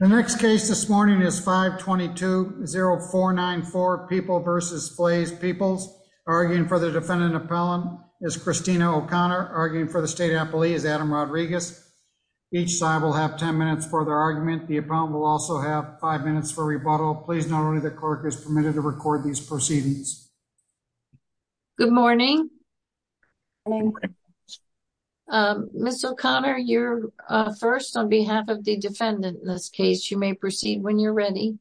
The next case this morning is 522-0494, People v. Flays Peoples. Arguing for the defendant appellant is Christina O'Connor. Arguing for the state appellee is Adam Rodriguez. Each side will have 10 minutes for their argument. The appellant will also have five minutes for rebuttal. Please note only the clerk is permitted to record these proceedings. Good morning. Ms. O'Connor, you're first on behalf of the defendant in this case. You may proceed when you're ready.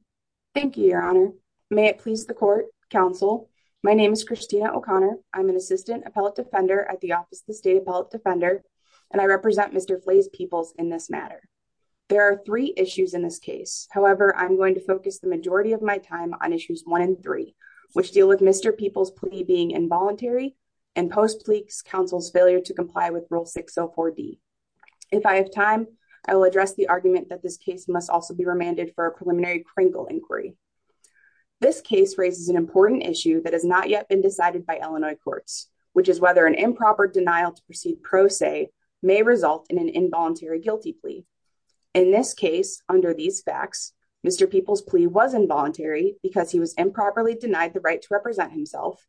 Thank you, Your Honor. May it please the court, counsel, my name is Christina O'Connor. I'm an assistant appellate defender at the Office of the State Appellate Defender, and I represent Mr. Flays Peoples in this matter. There are three issues in this case. However, I'm going to focus the majority of my time on issues one and three, which deal with Mr. Peoples' plea being involuntary and post-plea counsel's failure to comply with Rule 604D. If I have time, I will address the argument that this case must also be remanded for a preliminary Kringle inquiry. This case raises an important issue that has not yet been decided by Illinois courts, which is whether an improper denial to proceed pro se may result in an involuntary guilty In this case, under these facts, Mr. Peoples' plea was involuntary because he was improperly denied the right to represent himself.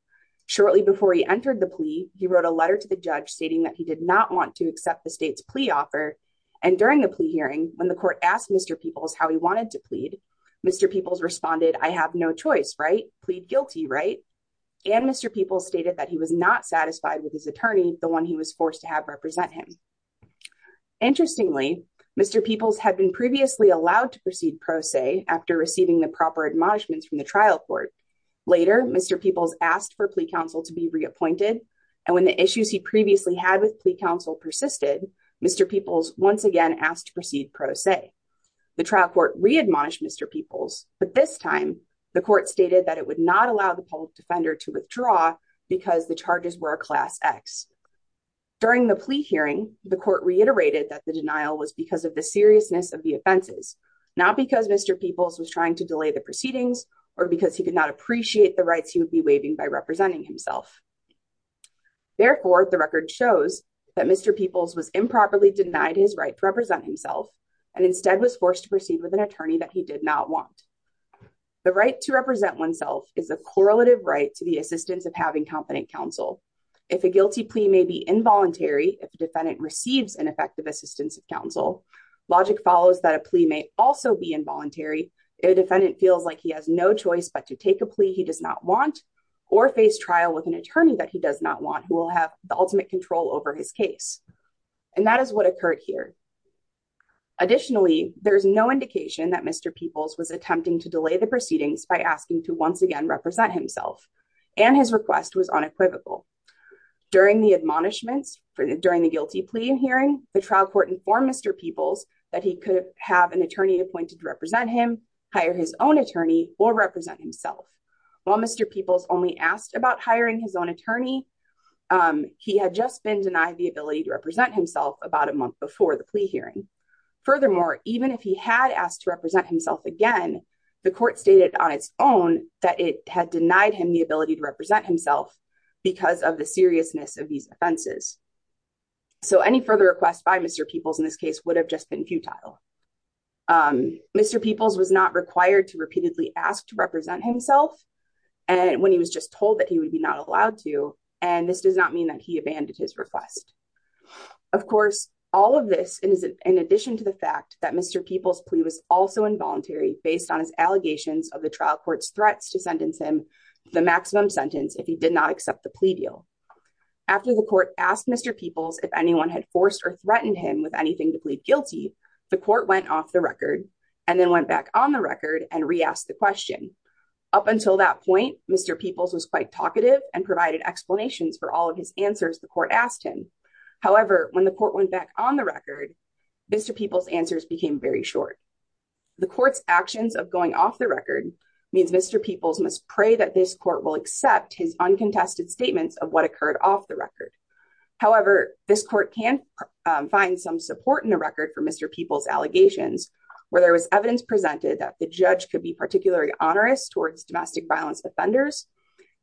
Shortly before he entered the plea, he wrote a letter to the judge stating that he did not want to accept the state's plea offer. And during the plea hearing, when the court asked Mr. Peoples how he wanted to plead, Mr. Peoples responded, I have no choice, right? Plead guilty, right? And Mr. Peoples stated that he was not satisfied with his attorney, the one he was forced to have represent him. Interestingly, Mr. Peoples had been previously allowed to proceed pro se after receiving the proper admonishments from the trial court. Later, Mr. Peoples asked for plea counsel to be reappointed. And when the issues he previously had with plea counsel persisted, Mr. Peoples once again asked to proceed pro se. The trial court readmonished Mr. Peoples, but this time the court stated that it would not allow the public defender to withdraw because the charges were a class X. During the plea hearing, the court reiterated that the denial was because of the seriousness of the offenses, not because Mr. Peoples was trying to delay the proceedings or because he could not appreciate the rights he would be waiving by representing himself. Therefore, the record shows that Mr. Peoples was improperly denied his right to represent himself and instead was forced to proceed with an attorney that he did not want. The right to represent oneself is a correlative right to the assistance of having competent counsel. If a guilty plea may be involuntary, if the defendant receives ineffective assistance of counsel, logic follows that a plea may also be involuntary if a defendant feels like he has no choice but to take a plea he does not want or face trial with an attorney that he does not want, who will have the ultimate control over his case. And that is what occurred here. Additionally, there is no indication that Mr. Peoples was attempting to delay the proceedings by asking to once again represent himself, and his request was unequivocal. During the admonishments, during the guilty plea hearing, the trial court informed Mr. Peoples that he could have an attorney appointed to represent him, hire his own attorney, or represent himself. While Mr. Peoples only asked about hiring his own attorney, he had just been denied the ability to represent himself about a year ago, and even if he had asked to represent himself again, the court stated on its own that it had denied him the ability to represent himself because of the seriousness of these offenses. So any further request by Mr. Peoples in this case would have just been futile. Mr. Peoples was not required to repeatedly ask to represent himself, and when he was just told that he would be not allowed to, and this does not mean that he abandoned his request. Of course, all of this in addition to the fact that Mr. Peoples' plea was also involuntary based on his allegations of the trial court's threats to sentence him the maximum sentence if he did not accept the plea deal. After the court asked Mr. Peoples if anyone had forced or threatened him with anything to plead guilty, the court went off the record and then went back on the record and re-asked the question. Up until that point, Mr. Peoples was quite talkative and provided explanations for all of his answers the court asked him. However, when the court went back on the record, Mr. Peoples' answers became very short. The court's actions of going off the record means Mr. Peoples must pray that this court will accept his uncontested statements of what occurred off the record. However, this court can find some support in the record for Mr. Peoples' allegations where there was evidence presented that the judge could be particularly onerous towards domestic violence offenders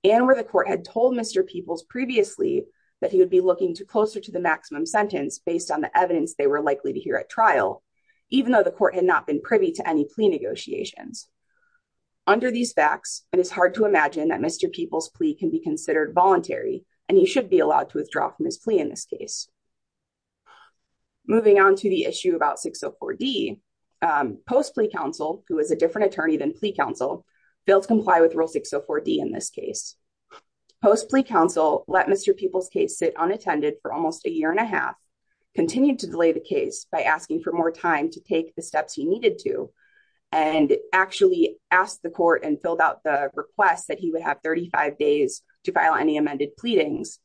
and where the court had told Mr. Peoples previously that he would be looking to closer to the maximum sentence based on the evidence they were likely to hear at trial, even though the court had not been privy to any plea negotiations. Under these facts, it is hard to imagine that Mr. Peoples' plea can be considered voluntary and he should be allowed to withdraw from his plea in this case. Moving on to the issue about 604D, Post Plea Counsel, who is a different attorney than Plea Counsel, failed to comply with Rule 604D in this case. Post Plea Counsel let Mr. Peoples' case sit unattended for almost a year and a half, continued to delay the case by asking for more time to take the steps he needed to, and actually asked the court and filled out the request that he would have 35 days to file any amended pleadings,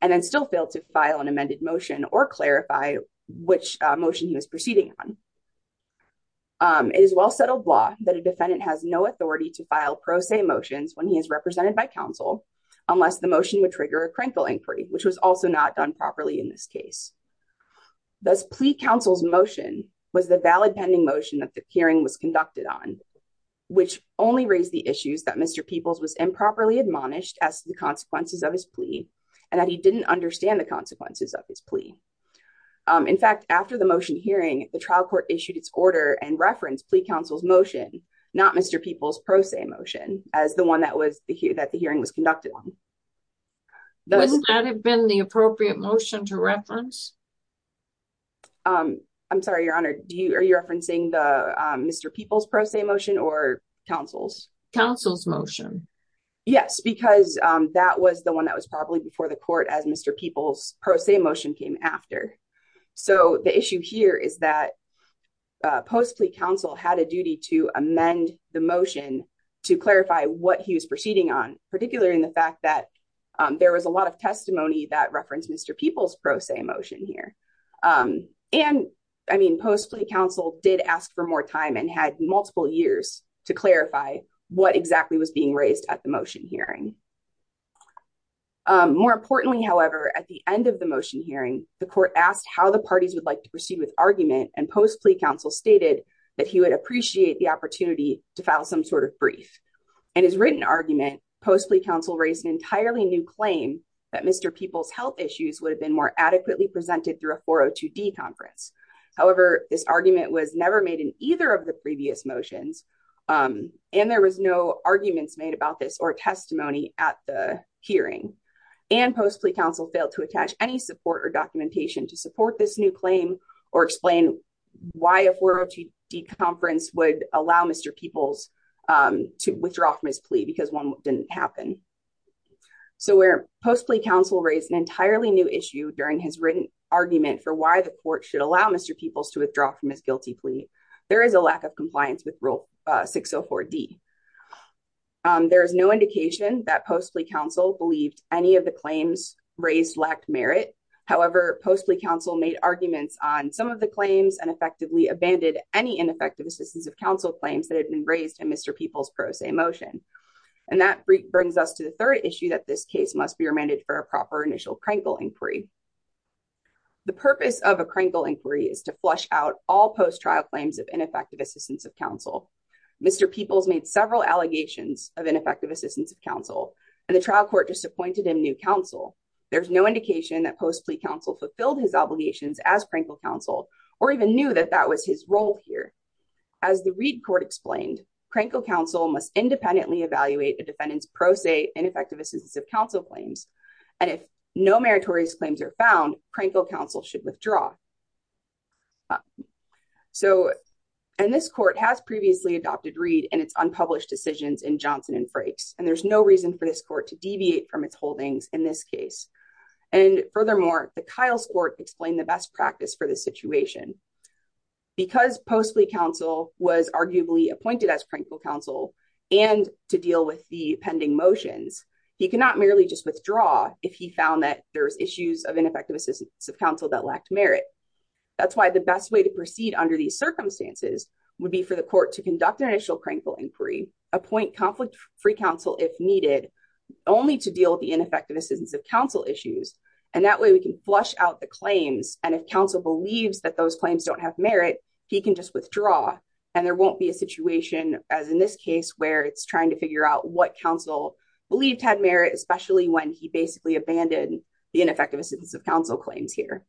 and then still failed to file an amended motion or clarify which motion he was proceeding on. It is well settled law that a defendant has no authority to file pro se motions when he is represented by counsel, unless the motion would trigger a crankle inquiry, which was also not done properly in this case. Thus, Plea Counsel's motion was the valid pending motion that the hearing was conducted on, which only raised the issues that Mr. Peoples was improperly admonished as the consequences of his plea, and that he didn't understand the consequences of his plea. In fact, after the motion hearing, the trial court issued its order and referenced Plea Counsel's motion, not Mr. Peoples' pro se motion, as the one that the hearing was conducted on. Would that have been the appropriate motion to reference? I'm sorry, Your Honor, are you referencing Mr. Peoples' pro se motion or counsel's? Counsel's motion. Yes, because that was the one that was probably before the court as Mr. Peoples' pro se motion came after. So the issue here is that Post Plea Counsel had a duty to amend the motion to clarify what he was proceeding on, particularly in the fact that there was a lot of testimony that referenced Mr. Peoples' pro se motion here. And, I mean, Post Plea Counsel did ask for more time and had was being raised at the motion hearing. More importantly, however, at the end of the motion hearing, the court asked how the parties would like to proceed with argument and Post Plea Counsel stated that he would appreciate the opportunity to file some sort of brief. In his written argument, Post Plea Counsel raised an entirely new claim that Mr. Peoples' health issues would have been more adequately presented through a 402D conference. However, this argument was never made in either of the arguments made about this or testimony at the hearing and Post Plea Counsel failed to attach any support or documentation to support this new claim or explain why a 402D conference would allow Mr. Peoples to withdraw from his plea because one didn't happen. So where Post Plea Counsel raised an entirely new issue during his written argument for why the court should allow Mr. Peoples to withdraw from his guilty plea, there is a lack of compliance with Rule 604D. There is no indication that Post Plea Counsel believed any of the claims raised lacked merit. However, Post Plea Counsel made arguments on some of the claims and effectively abandoned any ineffective assistance of counsel claims that had been raised in Mr. Peoples' pro se motion. And that brings us to the third issue that this case must be remanded for a proper initial Krenkel inquiry. The purpose of a Krenkel inquiry is to flush out all post trial claims of ineffective assistance of counsel. Mr. Peoples made several allegations of ineffective assistance of counsel and the trial court disappointed him new counsel. There's no indication that Post Plea Counsel fulfilled his obligations as Krenkel counsel or even knew that that was his role here. As the Reed court explained, Krenkel counsel must independently evaluate a defendant's pro se ineffective assistance of counsel claims. And if no meritorious claims are found, Krenkel counsel should withdraw. So, and this court has previously adopted Reed and its unpublished decisions in Johnson and Frakes. And there's no reason for this court to deviate from its holdings in this case. And furthermore, the Kyle's court explained the best practice for this situation. Because Post Plea Counsel was arguably appointed as Krenkel counsel and to deal with the pending motions, he cannot merely just withdraw if he found that there's issues of ineffective assistance of counsel that lacked merit. That's why the best way to proceed under these circumstances would be for the court to conduct an initial Krenkel inquiry, appoint conflict free counsel if needed, only to deal with the ineffective assistance of counsel issues. And that way we can flush out the claims. And if counsel believes that those claims don't have merit, he can just withdraw. And there won't be a situation as in this case, where it's trying to figure out what counsel believed had merit, especially when he basically abandoned the ineffective assistance of counsel claims here.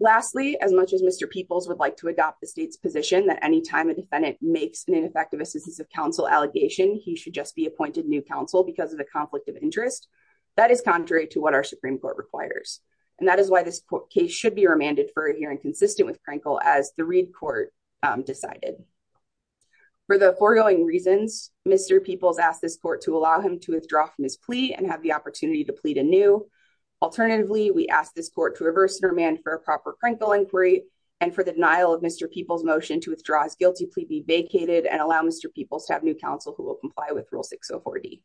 Lastly, as much as Mr. Peoples would like to adopt the state's position that anytime a defendant makes an ineffective assistance of counsel allegation, he should just be appointed new counsel because of the conflict of interest. That is contrary to what our Supreme Court requires. And that is why this case should be decided. For the foregoing reasons, Mr. Peoples asked this court to allow him to withdraw from his plea and have the opportunity to plead anew. Alternatively, we asked this court to reverse and remand for a proper Krenkel inquiry and for the denial of Mr. Peoples' motion to withdraw his guilty plea be vacated and allow Mr. Peoples to have new counsel who will comply with Rule 604D.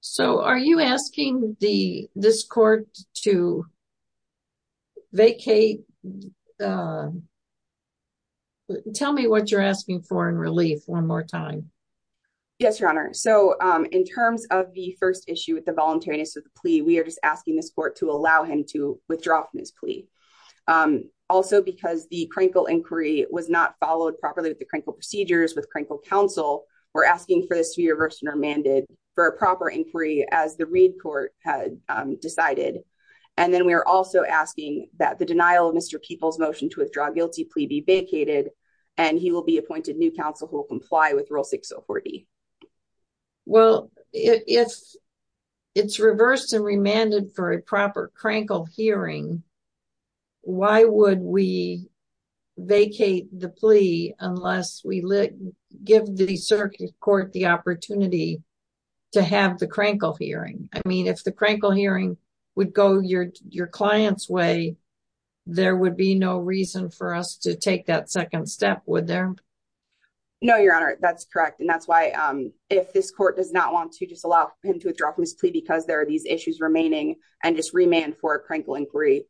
So are you asking this court to vacate? Tell me what you're asking for in relief one more time. Yes, Your Honor. So in terms of the first issue with the voluntariness of the plea, we are just asking this court to allow him to withdraw from his plea. Also, because the Krenkel inquiry was not followed properly with the Krenkel procedures, with Krenkel counsel, we're asking for this to be reversed and remanded for a proper inquiry as the Reed court had decided. And then we are also asking that the denial of Mr. Peoples' motion to withdraw guilty plea be vacated and he will be appointed new counsel who will comply with Rule 604D. Well, if it's reversed and remanded for a proper Krenkel hearing, why would we vacate the plea unless we give the circuit court the opportunity to have the Krenkel hearing? I mean, if the Krenkel hearing would go your client's way, there would be no reason for us to take that second step, would there? No, Your Honor, that's correct. And that's why if this court does not want to just allow him to withdraw from his plea because there are these issues remaining and just remand for a Krenkel inquiry,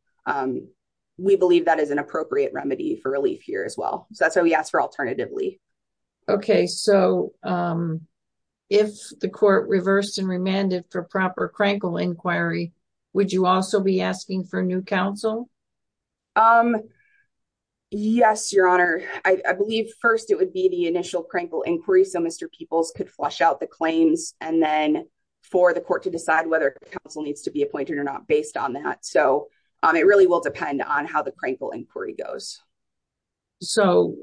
we believe that is an appropriate remedy for relief here as well. So that's why we asked for alternatively. Okay. So if the court reversed and remanded for proper Krenkel inquiry, would you also be asking for new counsel? Yes, Your Honor. I believe first it would be the initial Krenkel inquiry so Mr. Peoples could flush out the claims and then for the court to decide whether counsel needs to be appointed or not based on that. So it really will depend on how the Krenkel inquiry goes. So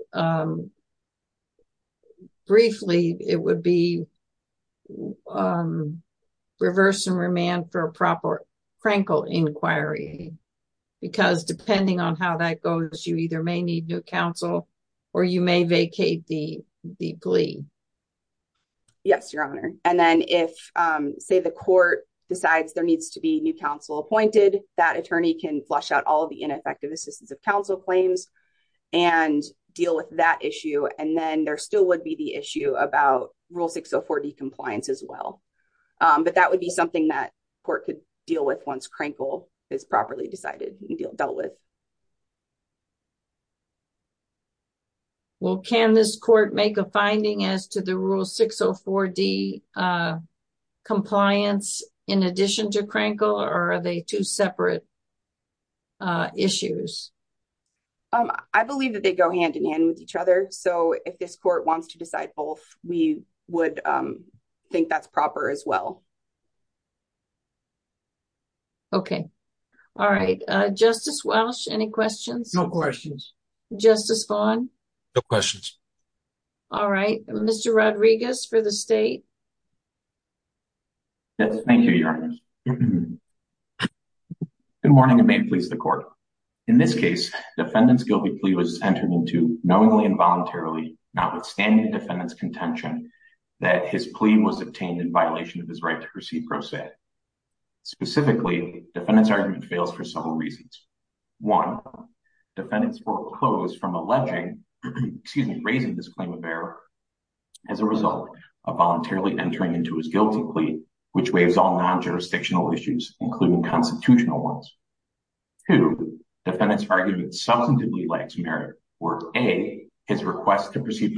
briefly, it would be reverse and remand for a proper Krenkel inquiry because depending on how that goes, you either may need new counsel or you may vacate the plea. Yes, Your Honor. And then if say the court decides there needs to be new counsel appointed, that attorney can flush out all the ineffective assistance of counsel claims and deal with that issue. And then there still would be the issue about Rule 604D compliance as well. But that would be something that court could deal with once Krenkel is properly decided and dealt with. Okay. Well, can this court make a finding as to the Rule 604D compliance in addition to Krenkel or are they two separate issues? I believe that they go hand in hand with each other. So if this court wants to decide both, we would think that's proper as well. Okay. All right. Justice Walsh, any questions? No questions. Justice Vaughn? No questions. All right. Mr. Rodriguez for the state. Yes. Thank you, Your Honor. Good morning and may it please the court. In this case, defendant's guilty plea was entered into knowingly and voluntarily notwithstanding the defendant's contention that his plea was obtained in violation of his right to appeal. The defendant's argument fails for several reasons. One, defendant's court closed from raising this claim of error as a result of voluntarily entering into his guilty plea, which waives all non-jurisdictional issues, including constitutional ones. Two, defendant's argument substantively lacks merit where A, his request to proceed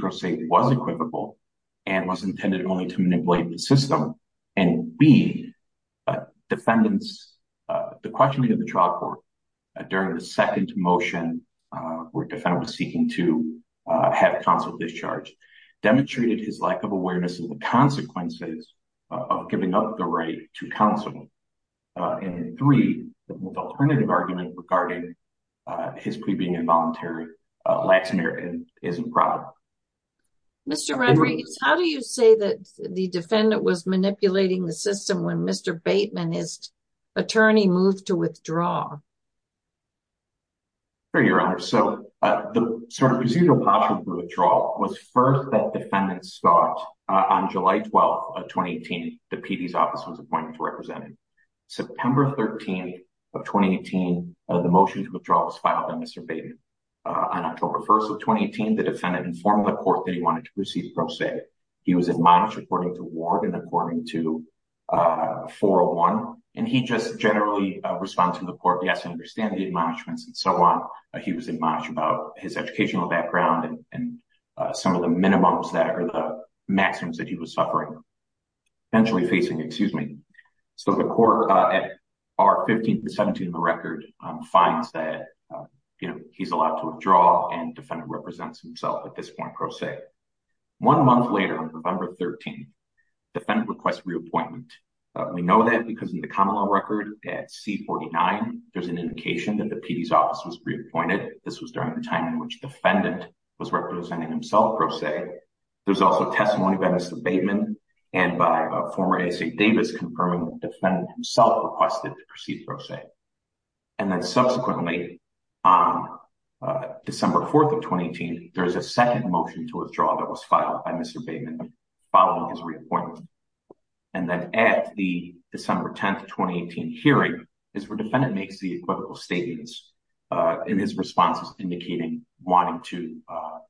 and B, defendant's, the questioning of the trial court during the second motion where defendant was seeking to have counsel discharged, demonstrated his lack of awareness of the consequences of giving up the right to counsel. And three, the alternative argument regarding his plea being involuntary lacks merit and isn't proper. Mr. Rodriguez, how do you say the defendant was manipulating the system when Mr. Bateman, his attorney, moved to withdraw? Sure, Your Honor. So, the sort of procedural possible withdrawal was first that defendants thought on July 12th of 2018, the PD's office was appointed to represent him. September 13th of 2018, the motion to withdraw was filed by Mr. Bateman. On October 1st of 2018, the defendant informed the court that he wanted to proceed pro se. He was admonished according to ward and according to 401. And he just generally responds to the court, yes, I understand the admonishments and so on. He was admonished about his educational background and some of the minimums that are the maximums that he was suffering, potentially facing, excuse me. So, the court at R15 and 17 of the record finds that he's allowed to withdraw and defendant represents himself at this point pro se. One month later on November 13th, defendant requests reappointment. We know that because in the common law record at C49, there's an indication that the PD's office was reappointed. This was during the time in which defendant was representing himself pro se. There's also testimony by Mr. And then subsequently on December 4th of 2018, there's a second motion to withdraw that was filed by Mr. Bateman following his reappointment. And then at the December 10th, 2018 hearing is where defendant makes the equivocal statements in his responses indicating wanting to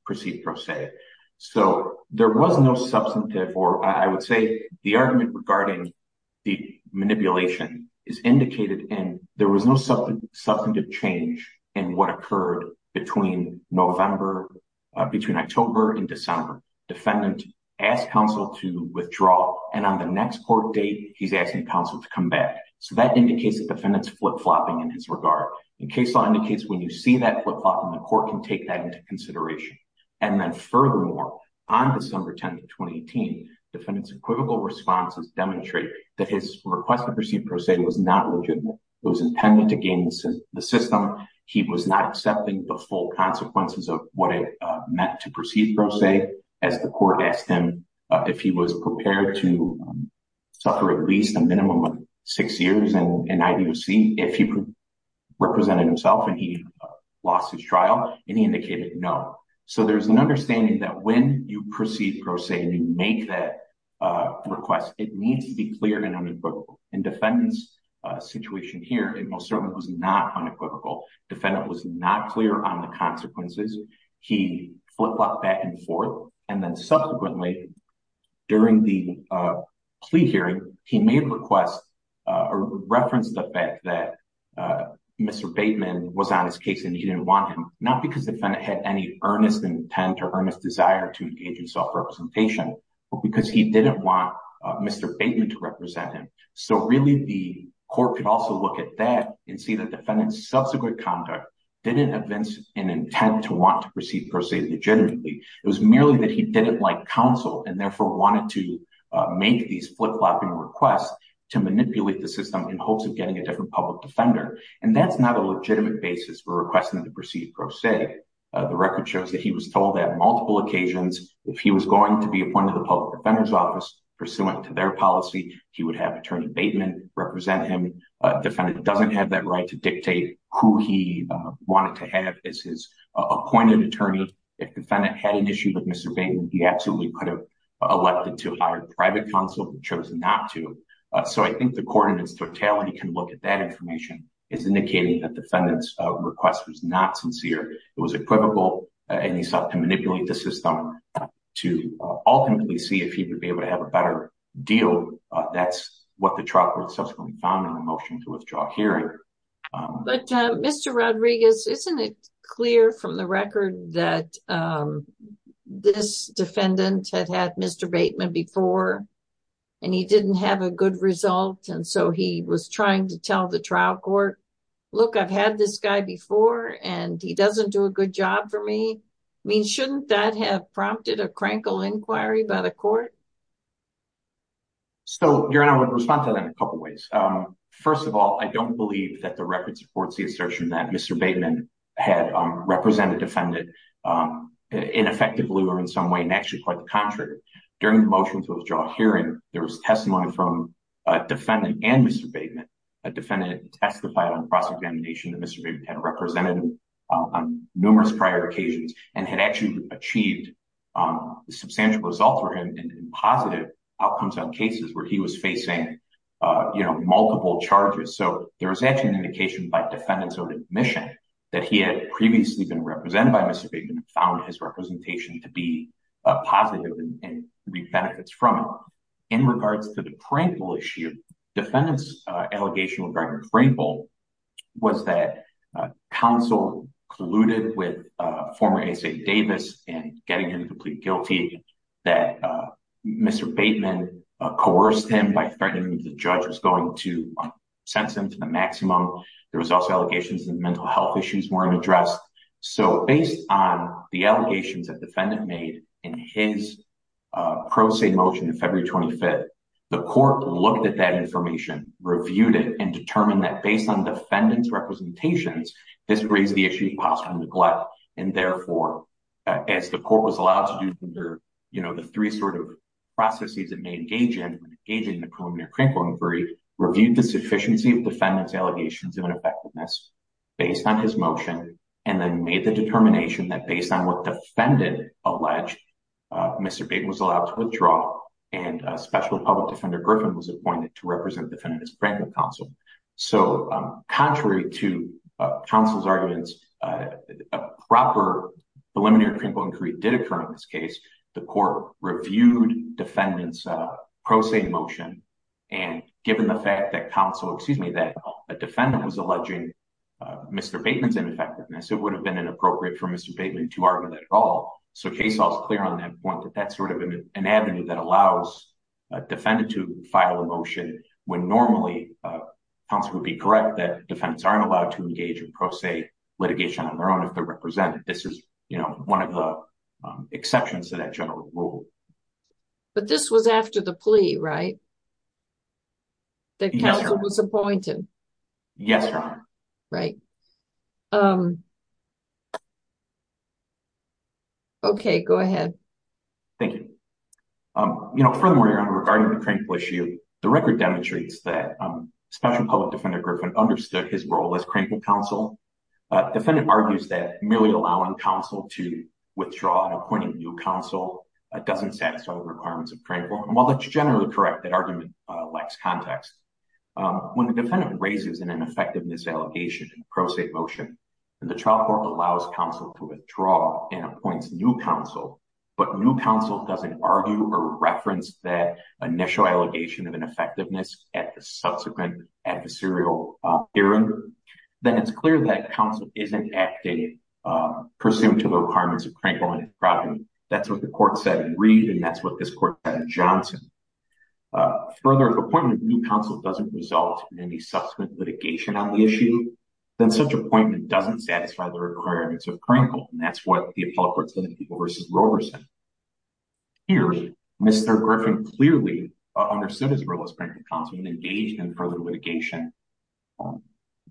proceed pro se. So, there was no substantive or I would say the argument regarding the manipulation is indicated and there was no substantive change in what occurred between November, between October and December. Defendant asked counsel to withdraw and on the next court date, he's asking counsel to come back. So, that indicates that defendant's flip-flopping in his regard. The case law indicates when you see that flip-flopping, the court can take that into consideration. And then furthermore, on December 10th, 2018, defendant's equivocal responses demonstrate that his request to proceed pro se was not legitimate. It was intended to gain the system. He was not accepting the full consequences of what it meant to proceed pro se as the court asked him if he was prepared to suffer at least a minimum of six years in IDOC if he represented himself and he lost his trial and he indicated no. So, there's an understanding that when you proceed pro se and you make that request, it needs to be clear and unequivocal. In defendant's situation here, it most certainly was not unequivocal. Defendant was not clear on the consequences. He flip-flopped back and forth and then subsequently, during the plea hearing, he made requests or referenced the fact that Mr. Bateman was on his case and he didn't want him, not because the defendant had any earnest intent or earnest desire to engage in self-representation, but because he didn't want Mr. Bateman to represent him. So really, the court could also look at that and see that defendant's subsequent conduct didn't evince an intent to want to proceed pro se legitimately. It was merely that he didn't like counsel and therefore wanted to make these flip-flopping requests to manipulate the system in hopes of getting a different public defender. And that's not a legitimate basis for requesting to proceed pro se. The record shows that he was told that on multiple occasions, if he was going to be appointed to the public defender's office pursuant to their policy, he would have attorney Bateman represent him. Defendant doesn't have that right to dictate who he wanted to have as his appointed attorney. If defendant had an issue with Mr. Bateman, he absolutely could have elected to hire private counsel, but chose not to. So I think the court in its totality can look at that information as indicating that defendant's request was not sincere. It was equivocal and he sought to manipulate the system to ultimately see if he would be able to have a better deal. That's what the trial court subsequently found in the motion to withdraw hearing. But Mr. Rodriguez, isn't it and he didn't have a good result. And so he was trying to tell the trial court, look, I've had this guy before and he doesn't do a good job for me. I mean, shouldn't that have prompted a crankle inquiry by the court? So I would respond to that in a couple of ways. First of all, I don't believe that the record supports the assertion that Mr. Bateman had represented defendant ineffectively or in some and actually quite the contrary. During the motion to withdraw hearing, there was testimony from a defendant and Mr. Bateman. A defendant testified on cross-examination that Mr. Bateman had represented him on numerous prior occasions and had actually achieved a substantial result for him in positive outcomes on cases where he was facing multiple charges. So there was actually an indication by defendant's own admission that he had previously been represented by Mr. Bateman and found his representation to be positive and reap benefits from it. In regards to the crankle issue, defendant's allegation regarding crankle was that counsel colluded with former ASA Davis in getting him to plead guilty, that Mr. Bateman coerced him by threatening the judge was going to sentence him to the maximum. There was also allegations of mental health issues weren't addressed. So based on the allegations that defendant made in his pro se motion of February 25th, the court looked at that information, reviewed it, and determined that based on defendant's representations, this raised the issue of possible neglect. And therefore, as the court was allowed to do under, you know, the three sort of processes it may engage in when engaging in the preliminary crankle inquiry, reviewed the sufficiency of defendant's allegations of effectiveness based on his motion, and then made the determination that based on what defendant alleged, Mr. Bateman was allowed to withdraw and special public defender Griffin was appointed to represent defendant's crankle counsel. So contrary to counsel's arguments, a proper preliminary crankle inquiry did occur in this case. The court reviewed defendant's pro se motion and given the fact that counsel, excuse me, that a defendant was alleging Mr. Bateman's ineffectiveness, it would have been inappropriate for Mr. Bateman to argue that at all. So case all is clear on that point that that's sort of an avenue that allows a defendant to file a motion when normally counsel would be correct that defendants aren't allowed to engage in pro se litigation on their own if they're represented. This is, you know, one of the exceptions to that rule. But this was after the plea, right? That counsel was appointed? Yes. Right. Okay, go ahead. Thank you. You know, furthermore, regarding the crankle issue, the record demonstrates that special public defender Griffin understood his role as crankle counsel. Defendant argues that merely allowing counsel to withdraw and appointing new counsel doesn't satisfy the requirements of crankle. And while that's generally correct, that argument lacks context. When the defendant raises an ineffectiveness allegation in pro se motion, and the trial court allows counsel to withdraw and appoints new counsel, but new counsel doesn't argue or reference that initial allegation of ineffectiveness at the subsequent adversarial error, then it's clear that counsel isn't acting pursuant to the requirements of crankle. And that's what the court said in Reed. And that's what this court said in Johnson. Further appointment of new counsel doesn't result in any subsequent litigation on the issue, then such appointment doesn't satisfy the requirements of crankle. And that's what the appellate court said in People v. Roberson. Here, Mr. Griffin clearly understood his role and engaged in further litigation.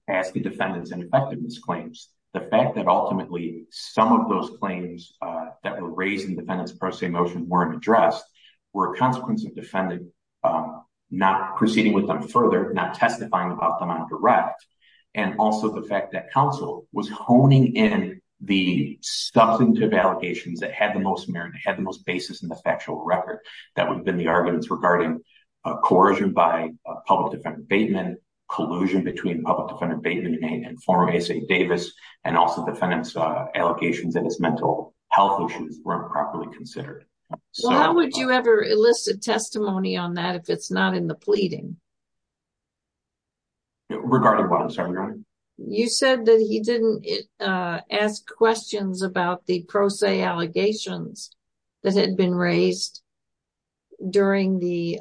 As the defendants and effectiveness claims, the fact that ultimately, some of those claims that were raised in defendants pro se motion weren't addressed, were a consequence of defendant not proceeding with them further not testifying about them on direct. And also the fact that counsel was honing in the substantive allegations that had the most merit had the most basis in the factual record, that would have been the of public defense abatement, collusion between public defense abatement and former ASA Davis, and also defendants allegations that his mental health issues were improperly considered. How would you ever elicit testimony on that if it's not in the pleading? Regarding what I'm sorry, Your Honor, you said that he didn't ask questions about the pro se allegations that had been raised during the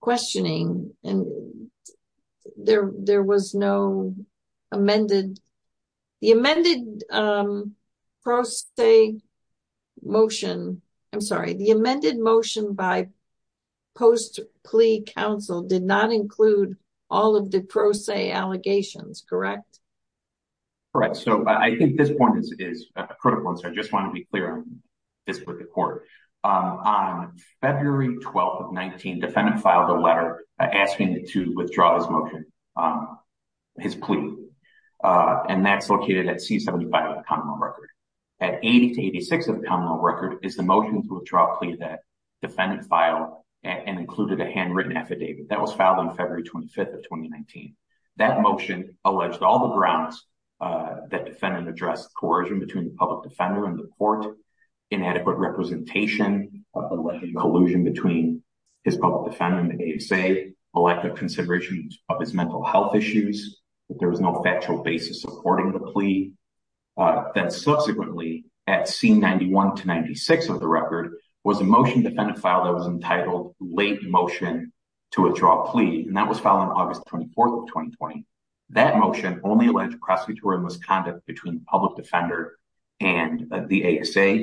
questioning and there was no amended. The amended pro se motion, I'm sorry, the amended motion by post plea counsel did not include all of the pro se allegations, correct? Correct. So I think this point is critical. And so I just want to be clear on this with the court. On February 12th of 19, defendant filed a letter asking to withdraw his motion, his plea. And that's located at C75 of the common law record. At 80 to 86 of the common law record is the motion to withdraw plea that defendant filed and included a handwritten affidavit that was filed on February 25th of 2019. That motion alleged all the grounds that defendant addressed coercion between the public defender and the court, inadequate representation, collusion between his public defender and the ASA, a lack of consideration of his mental health issues, that there was no factual basis supporting the plea. Then subsequently at C91 to 96 of the record was a motion defendant filed that was entitled late motion to withdraw plea. And that was filed on August 24th of 2020. That motion only alleged prosecutorial misconduct between public defender and the ASA,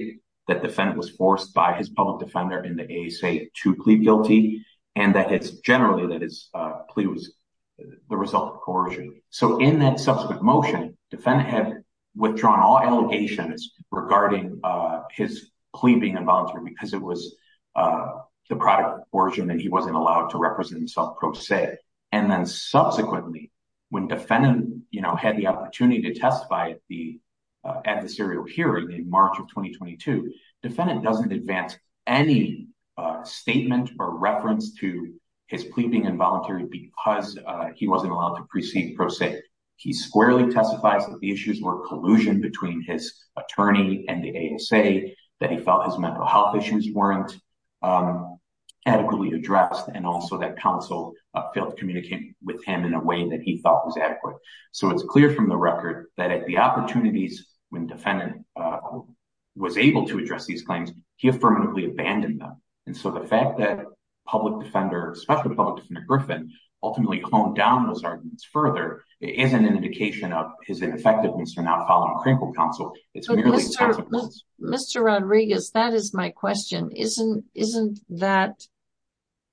that defendant was forced by his public defender in the ASA to plead guilty. And that it's generally that his plea was the result of coercion. So in that subsequent motion, defendant had withdrawn all allegations regarding his pleading involuntary because it was the product of coercion and he wasn't allowed to represent himself pro se. And then subsequently when defendant had the opportunity to testify at the adversarial hearing in March of 2022, defendant doesn't advance any statement or reference to his pleading involuntary because he wasn't allowed to proceed pro se. He squarely testifies that the issues were collusion between his attorney and the ASA, that he felt his mental health issues weren't adequately addressed and also that counsel failed to communicate with him in a way that he thought was adequate. So it's clear from the record that at the opportunities when defendant was able to address these claims, he affirmatively abandoned them. And so the fact that public defender, especially public defender Griffin, ultimately honed down those arguments further isn't an indication of his ineffectiveness for not following critical counsel. It's merely- Mr. Rodriguez, that is my question. Isn't that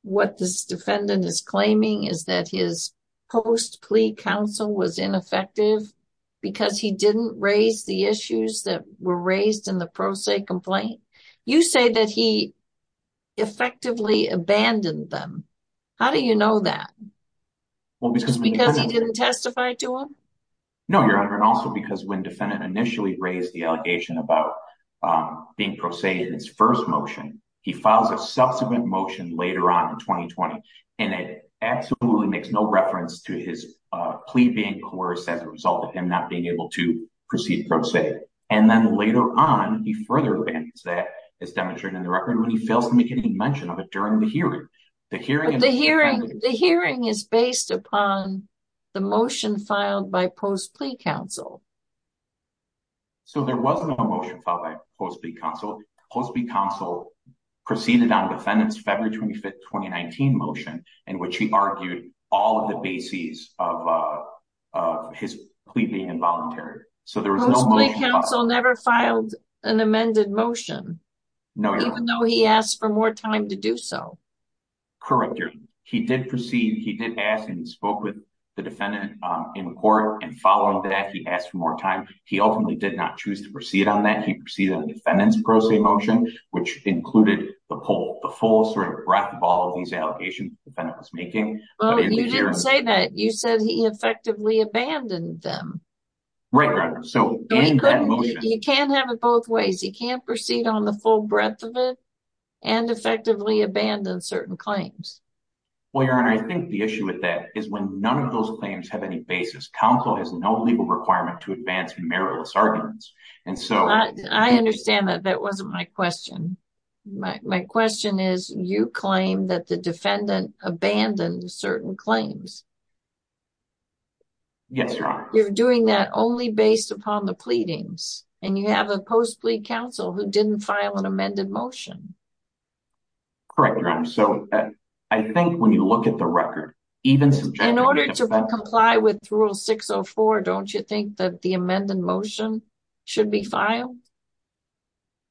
what this defendant is claiming is that his post-plea counsel was ineffective because he didn't raise the issues that were raised in the pro se complaint? You say that he effectively abandoned them. How do you know that? Well, because- Because he didn't testify to them? No, Your Honor. And also because when defendant initially raised the allegation about being pro se in his first motion, he files a subsequent motion later on in 2020. And it absolutely makes no reference to his plea being coerced as a result of him not being able to proceed pro se. And then later on, he further abandons that as demonstrated in the record when he fails to make any mention of it during the hearing. The hearing- So, there wasn't a motion filed by post-plea counsel. Post-plea counsel proceeded on defendant's February 25th, 2019 motion in which he argued all of the bases of his plea being involuntary. So, there was no- Post-plea counsel never filed an amended motion? No, Your Honor. Even though he asked for more time to do so? Correct, Your Honor. He did proceed. He did ask and spoke with the defendant in court. And following that, he asked for more time. He ultimately did not choose to proceed on that. He proceeded on the defendant's pro se motion, which included the full sort of breadth of all of these allegations the defendant was making. But in the hearing- Well, you didn't say that. You said he effectively abandoned them. Right, Your Honor. So, during that motion- You can't have it both ways. He can't proceed on the full breadth of it and effectively abandon certain claims. Well, Your Honor, I think the issue with that is when none of those claims have any basis, counsel has no legal requirement to advance meritorious arguments. And so- I understand that. That wasn't my question. My question is, you claim that the defendant abandoned certain claims. Yes, Your Honor. You're doing that only based upon the pleadings. And you have a post-plea counsel who didn't file an amended motion. Correct, Your Honor. So, I think when you look at the record, even subjecting- In order to comply with Rule 604, don't you think that the amended motion should be filed?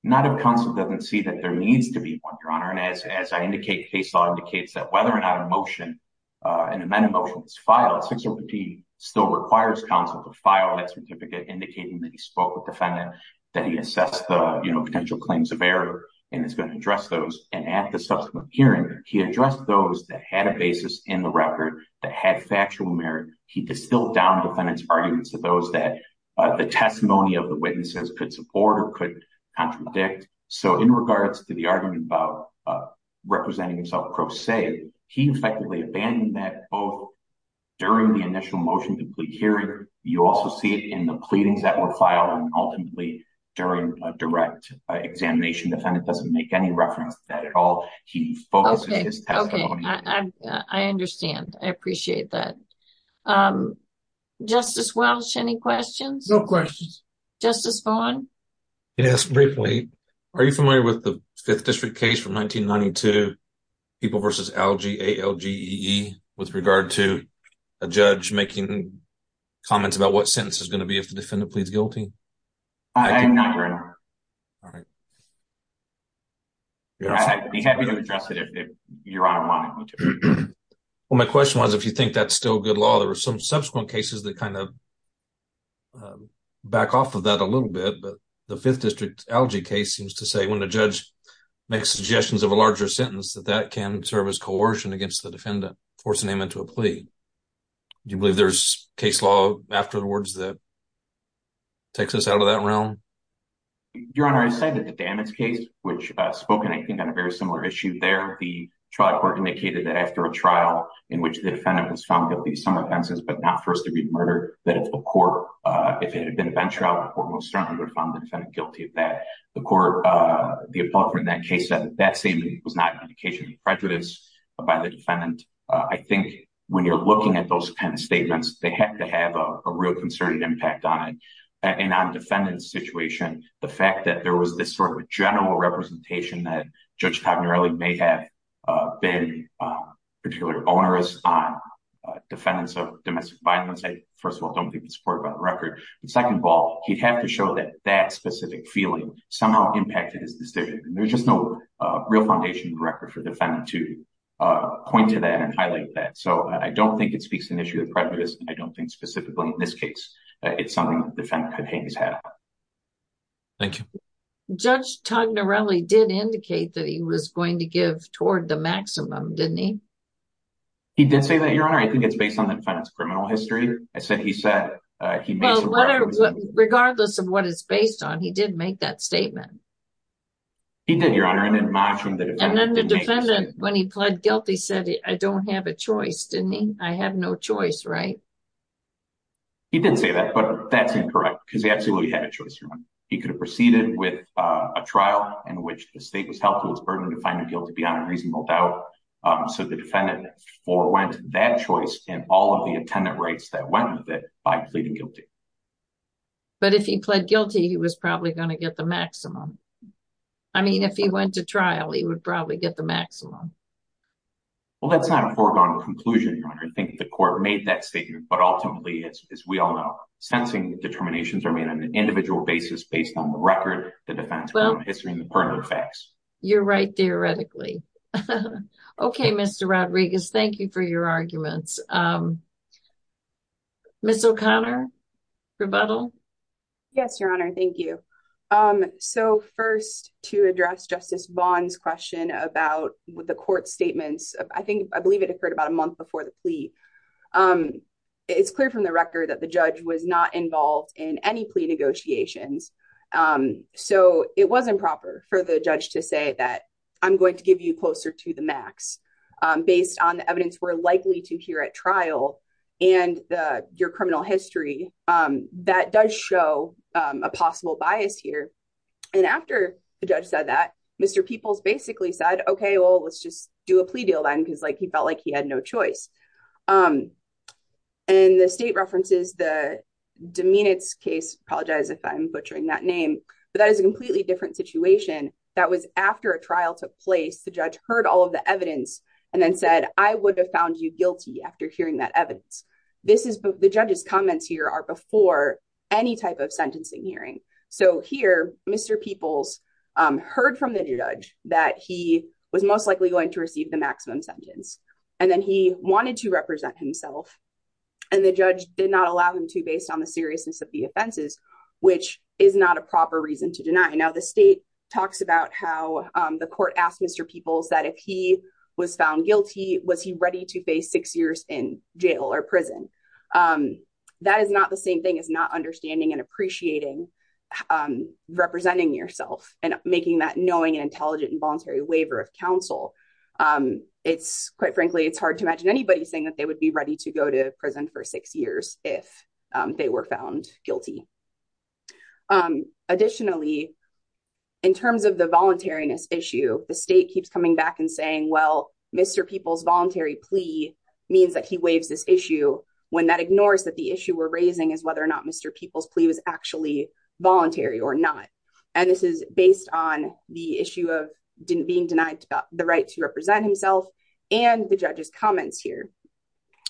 Not if counsel doesn't see that there needs to be one, Your Honor. And as I indicate, case law indicates that whether or not a motion, an amended motion is filed, 605P still requires counsel to file that certificate indicating that he spoke with the defendant, that he assessed the potential claims of error and is going to address those. And at the subsequent hearing, he addressed those that had a basis in the record, that had factual merit. He distilled down defendant's arguments to those that the testimony of the witnesses could support or could contradict. So, in regards to the argument about representing himself pro se, he effectively abandoned that both during the initial motion to plead hearing. You also see it in the pleadings that were filed and ultimately during a direct examination. Defendant doesn't make any reference to that at all. He focuses his testimony- Okay. Okay. I understand. I appreciate that. Justice Welch, any questions? No questions. Justice Vaughn? Yes, briefly. Are you familiar with the Fifth District case from 1992, People v. Algae, A-L-G-E-E, with regard to a judge making comments about what sentence is going to be if the defendant pleads guilty? I am not aware of that. All right. I'd be happy to address it if Your Honor wanted me to. Well, my question was, if you think that's still good law, there are some subsequent cases that back off of that a little bit. But the Fifth District Algae case seems to say, when a judge makes suggestions of a larger sentence, that that can serve as coercion against the defendant, forcing him into a plea. Do you believe there's case law afterwards that takes us out of that realm? Your Honor, I cited the Dammons case, which spoken, I think, on a very similar issue there. The trial court indicated that after a trial in which the defendant was found guilty of some offenses but not first-degree murder, that if a court, if it had been a bench trial, the court most certainly would have found the defendant guilty of that. The court, the appellate court in that case, said that that statement was not an indication of prejudice by the defendant. I think when you're looking at those kind of statements, they have to have a real concern and impact on it. And on the defendant's situation, the fact that there was this sort of general representation that Judge Cognarelli may have been particularly onerous on defendants of domestic violence, first of all, I don't think the support about the record, but second of all, he'd have to show that that specific feeling somehow impacted his decision. There's just no real foundation in the record for the defendant to point to that and highlight that. So I don't think it speaks to an issue of prejudice. I don't think specifically in this case, it's something the defendant could hang his hat on. Thank you. Judge Cognarelli did indicate that he was going to give toward the maximum, didn't he? He did say that, Your Honor. I think it's based on the defendant's criminal history. Well, regardless of what it's based on, he did make that statement. He did, Your Honor. And then the defendant, when he pled guilty, said, I don't have a choice, didn't he? I have no choice, right? He did say that, but that's incorrect, because he absolutely had a choice, Your Honor. He could have proceeded with a trial in which the state was held to its burden to find him guilty beyond a reasonable doubt. So the defendant forwent that choice and all of the attendant rights that went with it by pleading guilty. But if he pled guilty, he was probably going to get the maximum. I mean, if he went to trial, he would probably get the maximum. Well, that's not a foregone conclusion, Your Honor. I think the court made that statement, but ultimately, as we all know, sentencing determinations are made on an individual basis based on the record, the defendant's criminal history, and the pertinent facts. You're right, theoretically. Okay, Mr. Rodriguez, thank you for your arguments. Ms. O'Connor, rebuttal? Yes, Your Honor, thank you. So first, to address Justice Vaughn's question about the court's statements, I believe it occurred about a month before the plea. It's clear from the record that the judge was not involved in any plea negotiations. So it was improper for the judge to say that I'm going to give you closer to max based on the evidence we're likely to hear at trial and your criminal history. That does show a possible bias here. And after the judge said that, Mr. Peoples basically said, okay, well, let's just do a plea deal then because he felt like he had no choice. And the state references the Domenitz case, apologize if I'm butchering that name, but that is a completely different situation. That was after a trial took place, the judge heard all of the evidence and then said, I would have found you guilty after hearing that evidence. The judge's comments here are before any type of sentencing hearing. So here, Mr. Peoples heard from the judge that he was most likely going to receive the maximum sentence. And then he wanted to represent himself. And the judge did not allow him to based on the seriousness of the offenses, which is not a proper reason to deny. Now, the state talks about how the court asked Mr. Peoples that if he was found guilty, was he ready to face six years in jail or prison? That is not the same thing as not understanding and appreciating representing yourself and making that knowing and intelligent and voluntary waiver of counsel. It's quite frankly, it's hard to imagine anybody saying that they would be ready to go to In terms of the voluntariness issue, the state keeps coming back and saying, well, Mr. Peoples voluntary plea means that he waives this issue when that ignores that the issue we're raising is whether or not Mr. Peoples plea was actually voluntary or not. And this is based on the issue of didn't being denied the right to represent himself and the judge's comments here.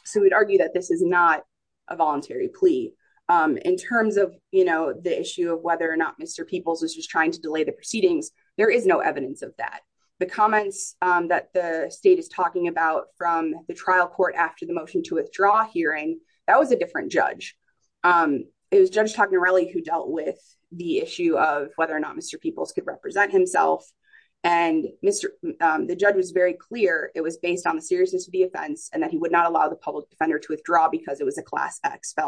So we'd argue that this is not a voluntary plea in terms of, you know, the issue of whether or not Mr. Peoples was just trying to delay the proceedings. There is no evidence of that. The comments that the state is talking about from the trial court after the motion to withdraw hearing, that was a different judge. It was Judge Toccarelli who dealt with the issue of whether or not Mr. Peoples could represent himself. And Mr. The judge was very clear, it was based on the seriousness of the offense, and that he would not allow the public defender to withdraw because it was a class X But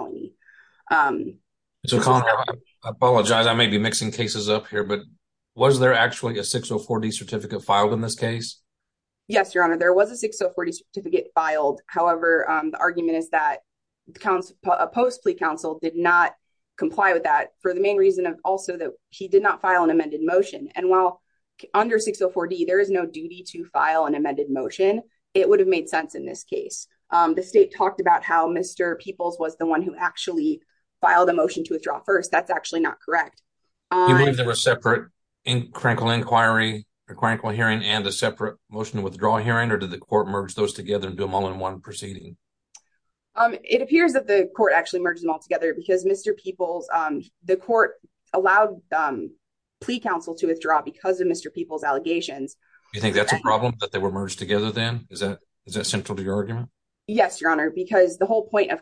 was there actually a 604D certificate filed in this case? Yes, your honor, there was a 604D certificate filed. However, the argument is that a post plea counsel did not comply with that for the main reason of also that he did not file an amended motion. And while under 604D, there is no duty to file an amended motion, it would have made sense in this case. The state talked about how Mr. Peoples was the one who actually filed a motion to withdraw first, that's actually not correct. Do you believe there was a separate crankle inquiry or crankle hearing and a separate motion to withdraw hearing or did the court merge those together and do them all in one proceeding? It appears that the court actually merged them all together because Mr. Peoples, the court allowed plea counsel to withdraw because of Mr. Peoples' allegations. Do you think that's a problem that they were merged together then? Is that central to your argument? Yes, your honor, because the whole point of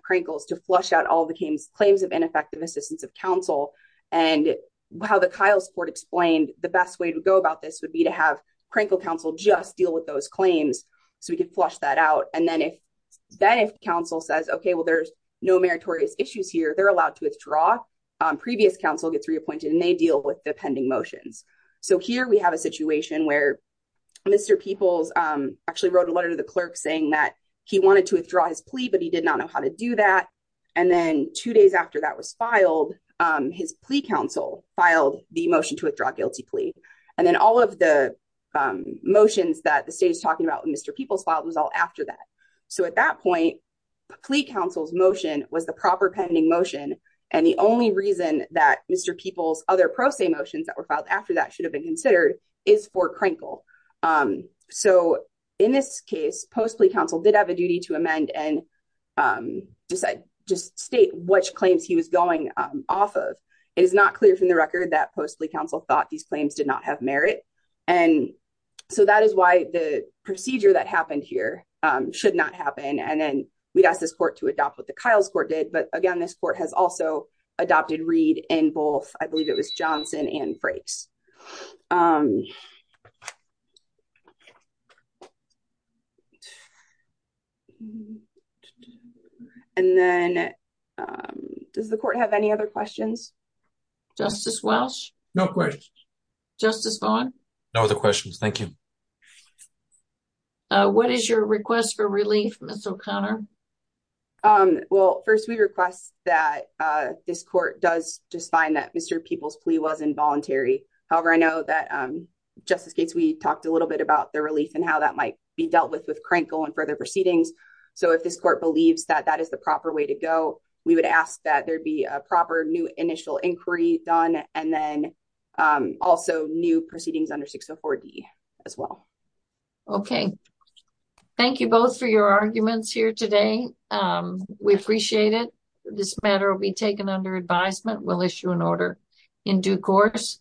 effective assistance of counsel and how the Kyle's court explained the best way to go about this would be to have crankle counsel just deal with those claims so we could flush that out. And then if counsel says, okay, well, there's no meritorious issues here, they're allowed to withdraw. Previous counsel gets reappointed and they deal with the pending motions. So here we have a situation where Mr. Peoples actually wrote a letter to the clerk saying that he wanted to file his plea counsel filed the motion to withdraw guilty plea. And then all of the motions that the state is talking about, Mr. Peoples filed was all after that. So at that point, plea counsel's motion was the proper pending motion. And the only reason that Mr. Peoples other pro se motions that were filed after that should have been considered is for crankle. So in this case, post plea counsel did have a duty to amend and just state which claims he was going off of. It is not clear from the record that post plea counsel thought these claims did not have merit. And so that is why the procedure that happened here should not happen. And then we'd ask this court to adopt what the Kyle's court did. But again, this court has also adopted read in both I believe it was Johnson and phrase. And then does the court have any other questions? Justice Welsh? No questions. Justice Vaughn? No other questions. Thank you. What is your request for relief, Mr. O'Connor? Well, first, we request that this court does just find that Mr. Peoples plea was involuntary. However, I know that Justice Gates, we talked a little bit about the relief and how that might be dealt with with crankle and further proceedings. So if this court believes that that is the proper way to go, we would ask that there'd be a proper new initial inquiry done and then also new proceedings under 604 D as well. Okay. Thank you both for your arguments here today. We appreciate it. This matter will be taken under advisement. We'll issue an order in due course.